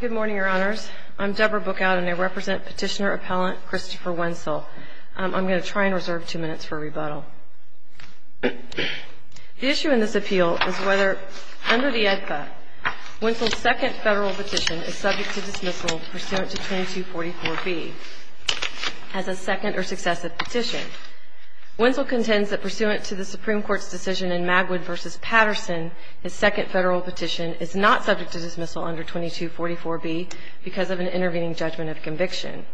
Good morning, Your Honors. I'm Deborah Bookout, and I represent petitioner-appellant Christopher Wentzell. I'm going to try and reserve two minutes for a rebuttal. The issue in this appeal is whether, under the AEDPA, Wentzell's second federal petition is subject to dismissal pursuant to 2244B as a second or successive petition. Wentzell contends that pursuant to the Supreme Court's decision in Magwood v. Patterson, his second federal petition is not subject to dismissal under 2244B because of an intervening judgment of conviction.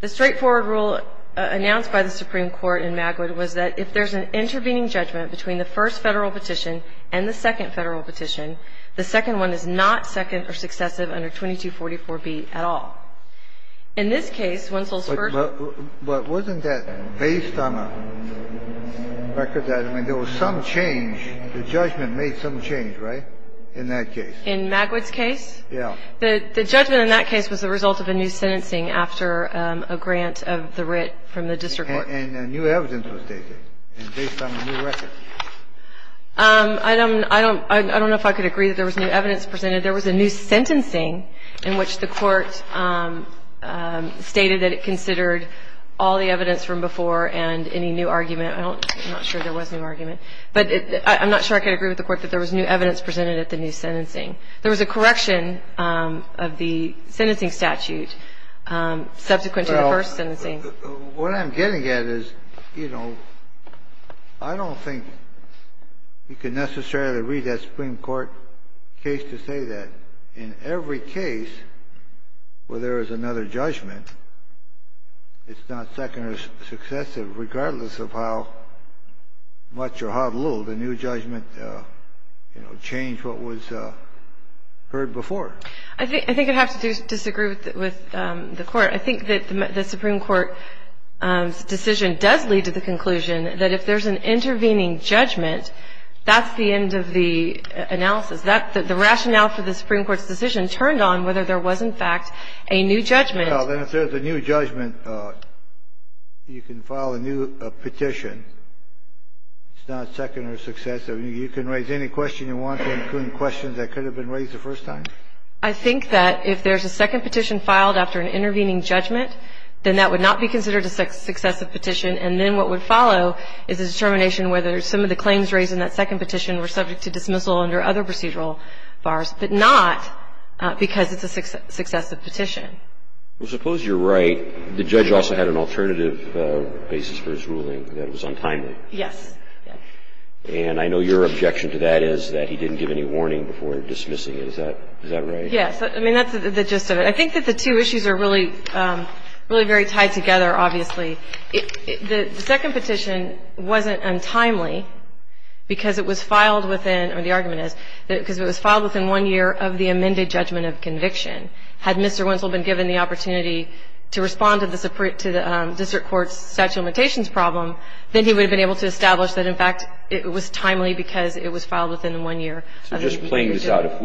The straightforward rule announced by the Supreme Court in Magwood was that if there's an intervening judgment between the first federal petition and the second federal petition, the second one is not second or successive under 2244B at all. In this case, Wentzell's first – But wasn't that based on a record that, I mean, there was some change, the judgment made some change, right, in that case? In Magwood's case? Yeah. The judgment in that case was the result of a new sentencing after a grant of the writ from the district court. And new evidence was taken based on a new record. I don't know if I could agree that there was new evidence presented. There was a new sentencing in which the Court stated that it considered all the evidence from before and any new argument. I don't – I'm not sure there was new argument. But I'm not sure I could agree with the Court that there was new evidence presented at the new sentencing. There was a correction of the sentencing statute subsequent to the first sentencing. What I'm getting at is, you know, I don't think you can necessarily read that Supreme Court case to say that in every case where there is another judgment, it's not second or successive, regardless of how much or how little the new judgment, you know, changed what was heard before. I think I'd have to disagree with the Court. I think that the Supreme Court's decision does lead to the conclusion that if there's an intervening judgment, that's the end of the analysis. The rationale for the Supreme Court's decision turned on whether there was, in fact, a new judgment. Well, then if there's a new judgment, you can file a new petition. It's not second or successive. You can raise any question you want to, including questions that could have been raised the first time. I think that if there's a second petition filed after an intervening judgment, then that would not be considered a successive petition. And then what would follow is a determination whether some of the claims raised in that second petition were subject to dismissal under other procedural bars, but not because it's a successive petition. Well, suppose you're right. The judge also had an alternative basis for his ruling that was untimely. Yes. And I know your objection to that is that he didn't give any warning before dismissing it. Is that right? Yes. I mean, that's the gist of it. I think that the two issues are really very tied together, obviously. The second petition wasn't untimely because it was filed within or the argument is because it was filed within one year of the amended judgment of conviction. Had Mr. Winsel been given the opportunity to respond to the district court's statute of limitations problem, then he would have been able to establish that, in fact, it was timely because it was filed within one year. So just playing this out, if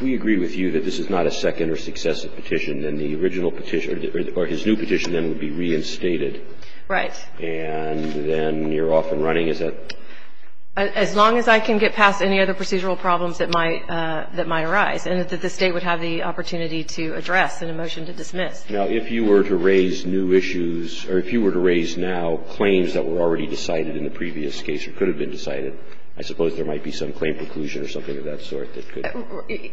we agree with you that this is not a second or successive petition, then the original petition or his new petition then would be reinstated. Right. And then you're off and running. Is that? As long as I can get past any other procedural problems that might arise and that the State would have the opportunity to address in a motion to dismiss. Now, if you were to raise new issues or if you were to raise now claims that were already decided in the previous case or could have been decided, I suppose there might be some claim preclusion or something of that sort that could.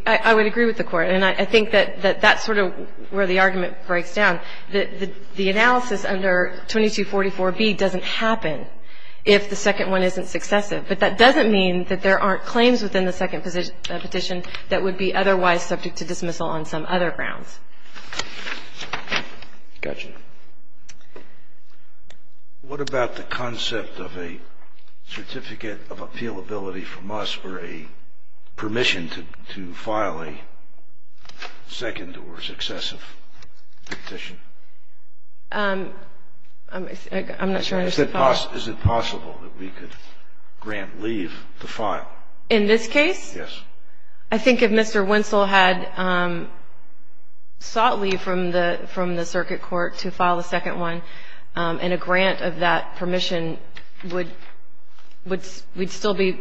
I would agree with the Court. And I think that that's sort of where the argument breaks down, that the analysis under 2244B doesn't happen if the second one isn't successive. But that doesn't mean that there aren't claims within the second petition that would be otherwise subject to dismissal on some other grounds. Gotcha. I have a question. What about the concept of a certificate of appealability from us or a permission to file a second or successive petition? I'm not sure I understand the question. Is it possible that we could grant leave to file? In this case? Yes. I think if Mr. Winsell had sought leave from the circuit court to file a second one and a grant of that permission, we'd still be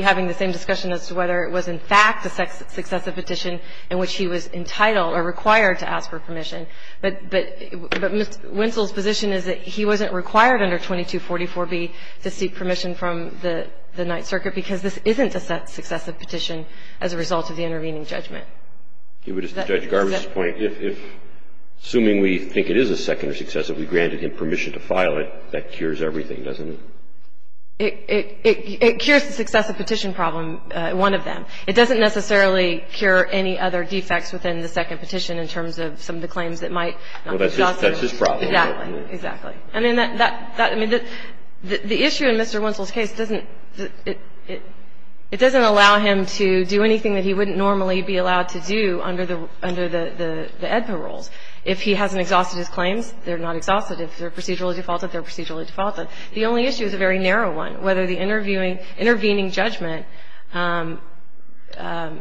having the same discussion as to whether it was in fact a successive petition in which he was entitled or required to ask for permission. But Mr. Winsell's position is that he wasn't required under 2244B to seek permission from the Ninth Circuit because this isn't a successive petition as a result of the intervening judgment. To Judge Garber's point, if, assuming we think it is a second or successive, we granted him permission to file it, that cures everything, doesn't it? It cures the successive petition problem, one of them. It doesn't necessarily cure any other defects within the second petition in terms of some of the claims that might not be possible. Well, that's his problem. Exactly. I mean, the issue in Mr. Winsell's case doesn't allow him to do anything that he wouldn't normally be allowed to do under the EDPA rules. If he hasn't exhausted his claims, they're not exhausted. If they're procedurally defaulted, they're procedurally defaulted. The only issue is a very narrow one, whether the intervening judgment that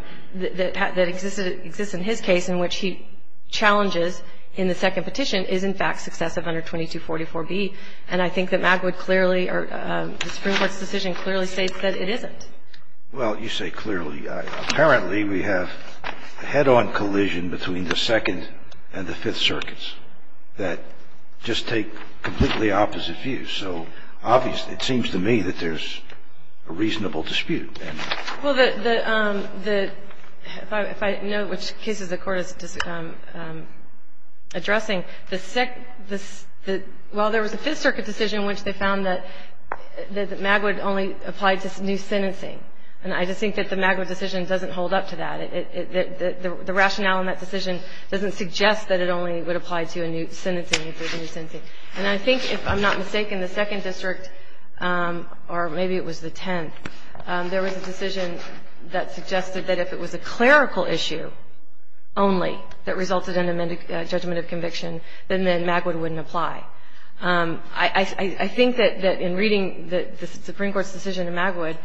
exists in his case in which he challenges in the second petition is in fact successive under 2244B. And I think that Magwood clearly or the Supreme Court's decision clearly states that it isn't. Well, you say clearly. Apparently, we have a head-on collision between the Second and the Fifth Circuits that just take completely opposite views. So obviously, it seems to me that there's a reasonable dispute. Well, the – if I note which cases the Court is addressing, the – well, there was a Fifth Circuit decision in which they found that Magwood only applied to new sentencing. And I just think that the Magwood decision doesn't hold up to that. The rationale in that decision doesn't suggest that it only would apply to a new sentencing if there's a new sentencing. And I think if I'm not mistaken, the Second District, or maybe it was the Tenth, there was a decision that suggested that if it was a clerical issue only that resulted in amended judgment of conviction, then Magwood wouldn't apply. I think that in reading the Supreme Court's decision in Magwood,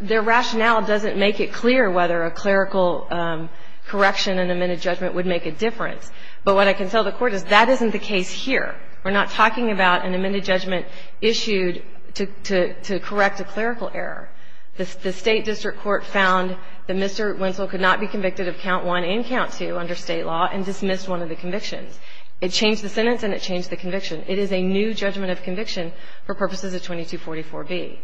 their rationale doesn't make it clear whether a clerical correction in amended judgment would make a difference. But what I can tell the Court is that isn't the case here. We're not talking about an amended judgment issued to correct a clerical error. The State district court found that Mr. Wentzel could not be convicted of Count I and Count II under State law and dismissed one of the convictions. It changed the sentence and it changed the conviction. It is a new judgment of conviction for purposes of 2244B.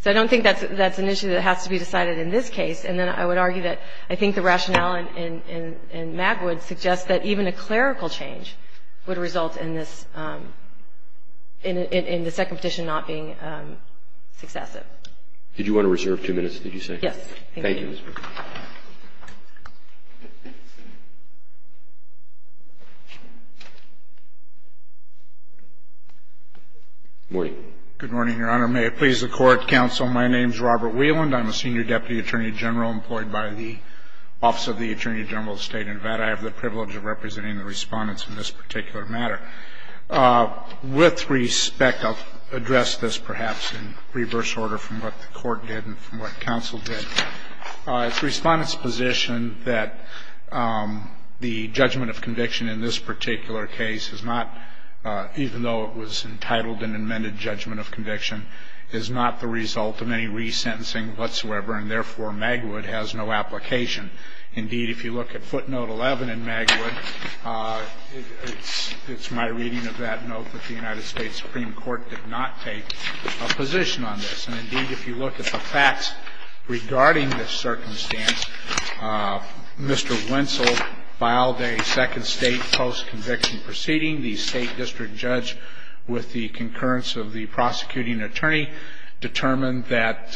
So I don't think that's an issue that has to be decided in this case. And then I would argue that I think the rationale in Magwood suggests that even a clerical change would result in this, in the Second Petition not being successive. Did you want to reserve two minutes, did you say? Yes. Thank you. Good morning. Good morning, Your Honor. May it please the Court, counsel, my name is Robert Wieland. I'm a senior deputy attorney general employed by the Office of the Attorney General of the State of Nevada. I have the privilege of representing the Respondents in this particular matter. With respect, I'll address this perhaps in reverse order from what the Court did and from what counsel did. The Respondents' position that the judgment of conviction in this particular case is not, even though it was entitled an amended judgment of conviction, is not the result of any resentencing whatsoever. And therefore, Magwood has no application. Indeed, if you look at footnote 11 in Magwood, it's my reading of that note, that the United States Supreme Court did not take a position on this. And indeed, if you look at the facts regarding this circumstance, Mr. Wenzel filed a second state post-conviction proceeding. The State District Judge, with the concurrence of the prosecuting attorney, determined that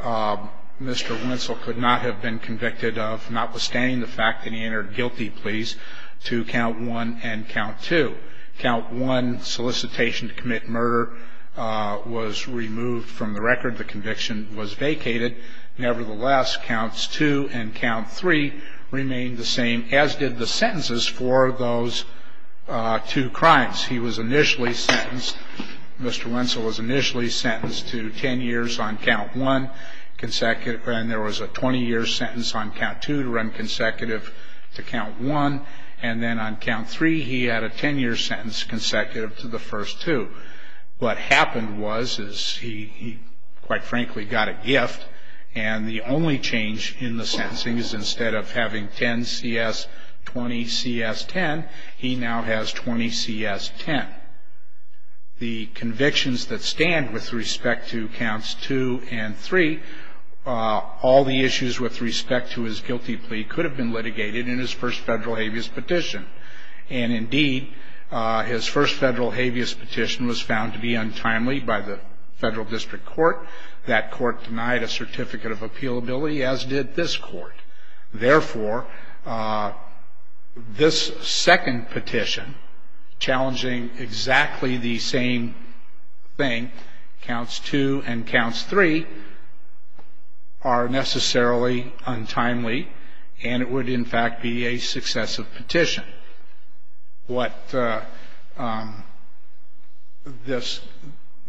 Mr. Wenzel could not have been convicted of, notwithstanding the fact that he entered guilty pleas, to count 1 and count 2. Count 1, solicitation to commit murder, was removed from the record. The conviction was vacated. Nevertheless, counts 2 and count 3 remained the same, as did the sentences for those two crimes. He was initially sentenced, Mr. Wenzel was initially sentenced to 10 years on count 1, and there was a 20-year sentence on count 2 to run consecutive to count 1. And then on count 3, he had a 10-year sentence consecutive to the first two. What happened was is he, quite frankly, got a gift, and the only change in the sentencing is instead of having 10-CS, 20-CS-10, he now has 20-CS-10. The convictions that stand with respect to counts 2 and 3, all the issues with respect to his guilty plea could have been litigated in his first federal habeas petition. And indeed, his first federal habeas petition was found to be untimely by the Federal District Court. That court denied a certificate of appealability, as did this court. Therefore, this second petition challenging exactly the same thing, counts 2 and counts 3, are necessarily untimely, and it would, in fact, be a successive petition. What this,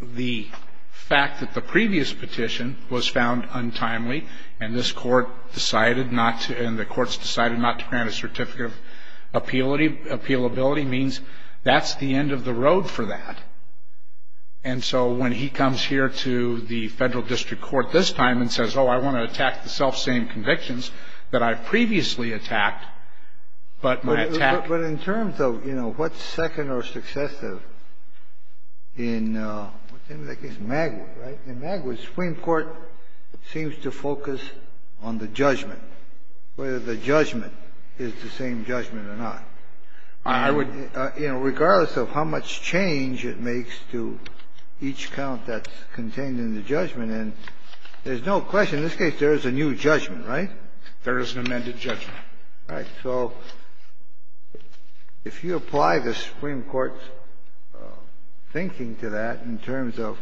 the fact that the previous petition was found untimely and this court decided not to, and the courts decided not to grant a certificate of appealability means that's the end of the road for that. And so when he comes here to the Federal District Court this time and says, oh, I want to attack the selfsame convictions that I previously attacked, but my attack ---- But in terms of, you know, what's second or successive in, what's the name of that case? Magwood, right? In Magwood, Supreme Court seems to focus on the judgment, whether the judgment is the same judgment or not. I would ---- You know, regardless of how much change it makes to each count that's contained in the judgment, and there's no question in this case there is a new judgment, right? There is an amended judgment. Right. So if you apply the Supreme Court's thinking to that in terms of,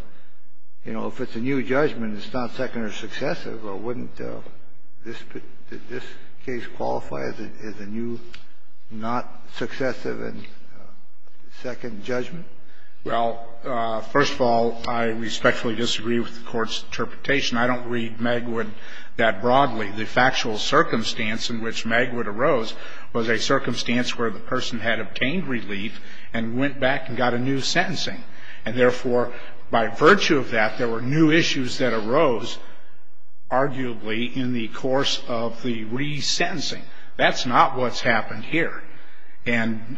you know, if it's a new judgment, it's not second or successive, or wouldn't this case qualify as a new, not successive and second judgment? Well, first of all, I respectfully disagree with the Court's interpretation. I don't read Magwood that broadly. The factual circumstance in which Magwood arose was a circumstance where the person had obtained relief and went back and got a new sentencing. And therefore, by virtue of that, there were new issues that arose, arguably, in the course of the resentencing. That's not what's happened here. And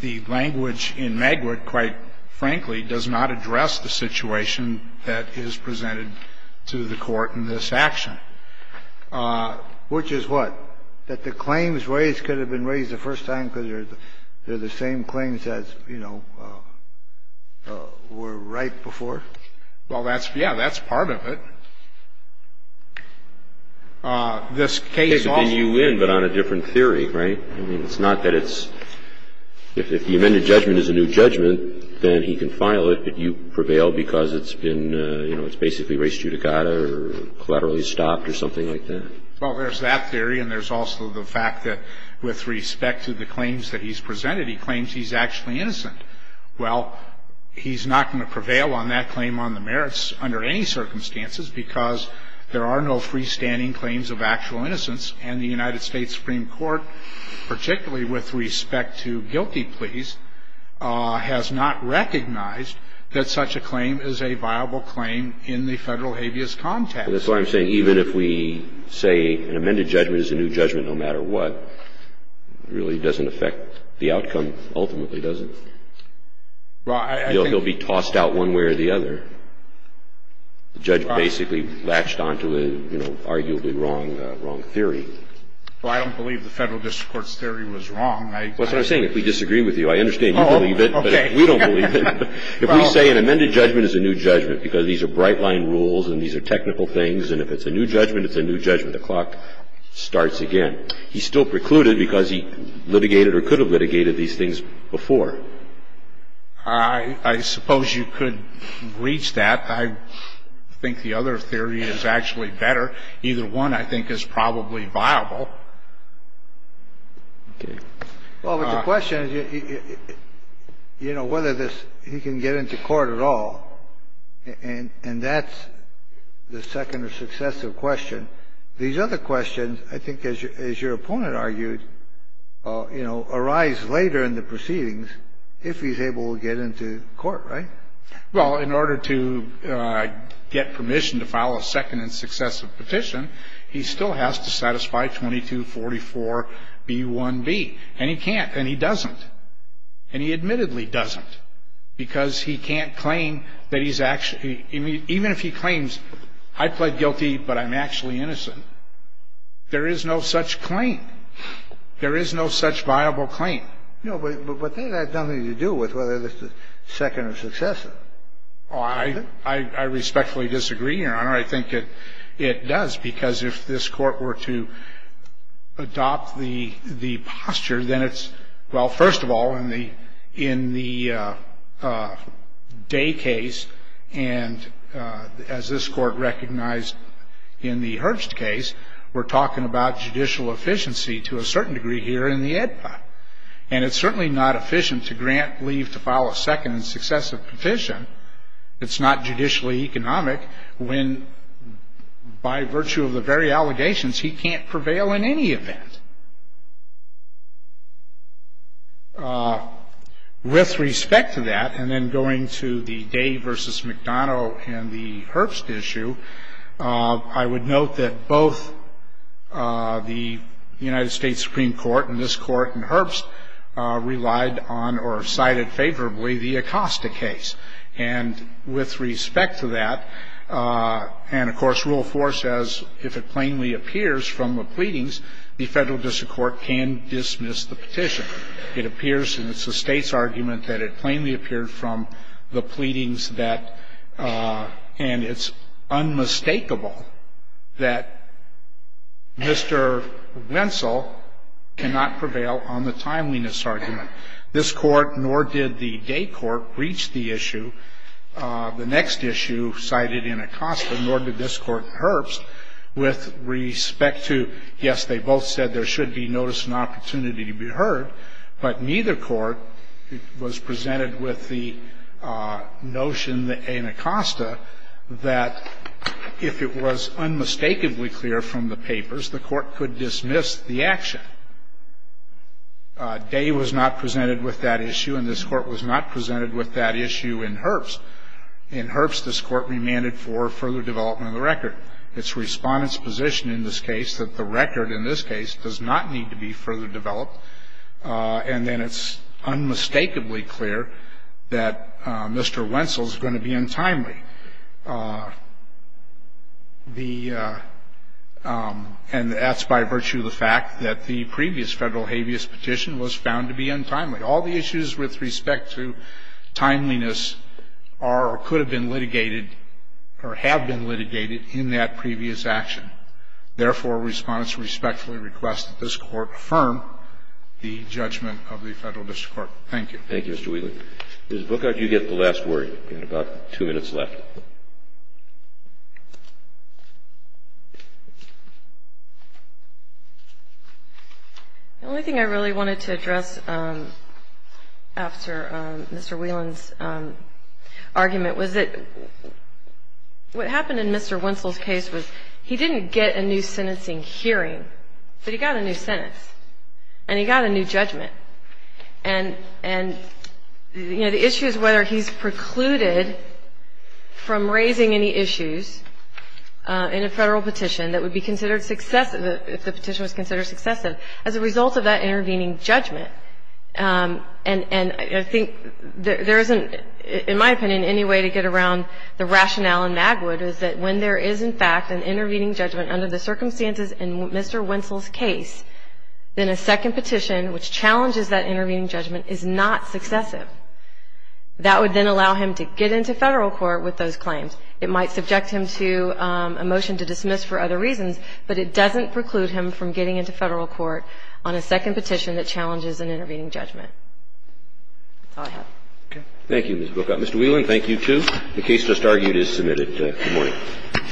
the language in Magwood, quite frankly, does not address the situation that is presented to the Court in this action. Which is what? That the claims raised could have been raised the first time because they're the same claims as, you know, were right before? Well, that's ---- Yeah, that's part of it. This case also---- I mean, you win, but on a different theory, right? I mean, it's not that it's ---- If the amended judgment is a new judgment, then he can file it, but you prevail because it's been, you know, it's basically res judicata or collaterally stopped or something like that. Well, there's that theory, and there's also the fact that with respect to the claims that he's presented, he claims he's actually innocent. Well, he's not going to prevail on that claim on the merits under any circumstances because there are no freestanding claims of actual innocence, and the United States Supreme Court, particularly with respect to guilty pleas, has not recognized that such a claim is a viable claim in the Federal habeas context. That's why I'm saying even if we say an amended judgment is a new judgment no matter what, it really doesn't affect the outcome ultimately, does it? Well, I think---- Well, I don't believe the Federal district court's theory was wrong. I think---- Well, that's what I'm saying. If we disagree with you, I understand you believe it, but if we don't believe it, if we say an amended judgment is a new judgment because these are bright-line rules and these are technical things, and if it's a new judgment, it's a new judgment, the clock starts again, he's still precluded because he litigated or could have litigated these things before. I suppose you could reach that. I think the other theory is actually better. Either one, I think, is probably viable. Okay. Well, but the question is, you know, whether this, he can get into court at all, and that's the second or successive question. These other questions, I think, as your opponent argued, you know, arise later in the proceedings if he's able to get into court, right? Well, in order to get permission to file a second and successive petition, he still has to satisfy 2244b1b, and he can't, and he doesn't, and he admittedly doesn't because he can't claim that he's actually ---- even if he claims I pled guilty, but I'm actually innocent, there is no such claim. There is no such viable claim. No, but they have nothing to do with whether this is second or successive. Oh, I respectfully disagree, Your Honor. I think it does, because if this Court were to adopt the posture, then it's, well, first of all, in the Day case and as this Court recognized in the Herbst case, we're And it's certainly not efficient to grant leave to file a second and successive petition. It's not judicially economic when, by virtue of the very allegations, he can't prevail in any event. With respect to that, and then going to the Day v. McDonough and the Herbst issue, I would note that both the United States Supreme Court and this Court and Herbst relied on or cited favorably the Acosta case. And with respect to that, and, of course, Rule 4 says if it plainly appears from the pleadings, the Federal District Court can dismiss the petition. It appears, and it's the State's argument, that it plainly appeared from the pleadings that, and it's unmistakable, that Mr. Wenzel cannot prevail on the timeliness argument. This Court, nor did the Day court, reached the issue, the next issue cited in Acosta, nor did this Court in Herbst, with respect to, yes, they both said there should be notice and opportunity to be heard, but neither court was presented with the notion in Acosta that if it was unmistakably clear from the papers, the Court could dismiss the action. Day was not presented with that issue, and this Court was not presented with that issue in Herbst. In Herbst, this Court remanded for further development of the record. It's the Respondent's position in this case that the record in this case does not need to be further developed, and then it's unmistakably clear that Mr. Wenzel is going to be untimely. The, and that's by virtue of the fact that the previous Federal habeas petition was found to be untimely. All the issues with respect to timeliness are, or could have been litigated, or have been litigated in that previous action. Therefore, Respondents respectfully request that this Court affirm the judgment of the Federal District Court. Thank you. Thank you, Mr. Whelan. Ms. Bookert, you get the last word. You have about two minutes left. The only thing I really wanted to address after Mr. Whelan's argument was that, what happened in Mr. Wenzel's case was he didn't get a new sentencing hearing, but he got a new sentence, and he got a new judgment. And, you know, the issue is whether he's precluded from raising any issues in a Federal petition that would be considered successive, if the petition was considered successive, as a result of that intervening judgment. And I think there isn't, in my opinion, any way to get around the rationale in Magwood is that when there is, in fact, an intervening judgment under the circumstances in Mr. Wenzel's case, then a second petition which challenges that intervening judgment is not successive. That would then allow him to get into Federal court with those claims. It might subject him to a motion to dismiss for other reasons, but it doesn't preclude him from getting into Federal court on a second petition that challenges an intervening judgment. That's all I have. Okay. Thank you, Ms. Bookout. Mr. Whelan, thank you, too. The case just argued is submitted. Good morning.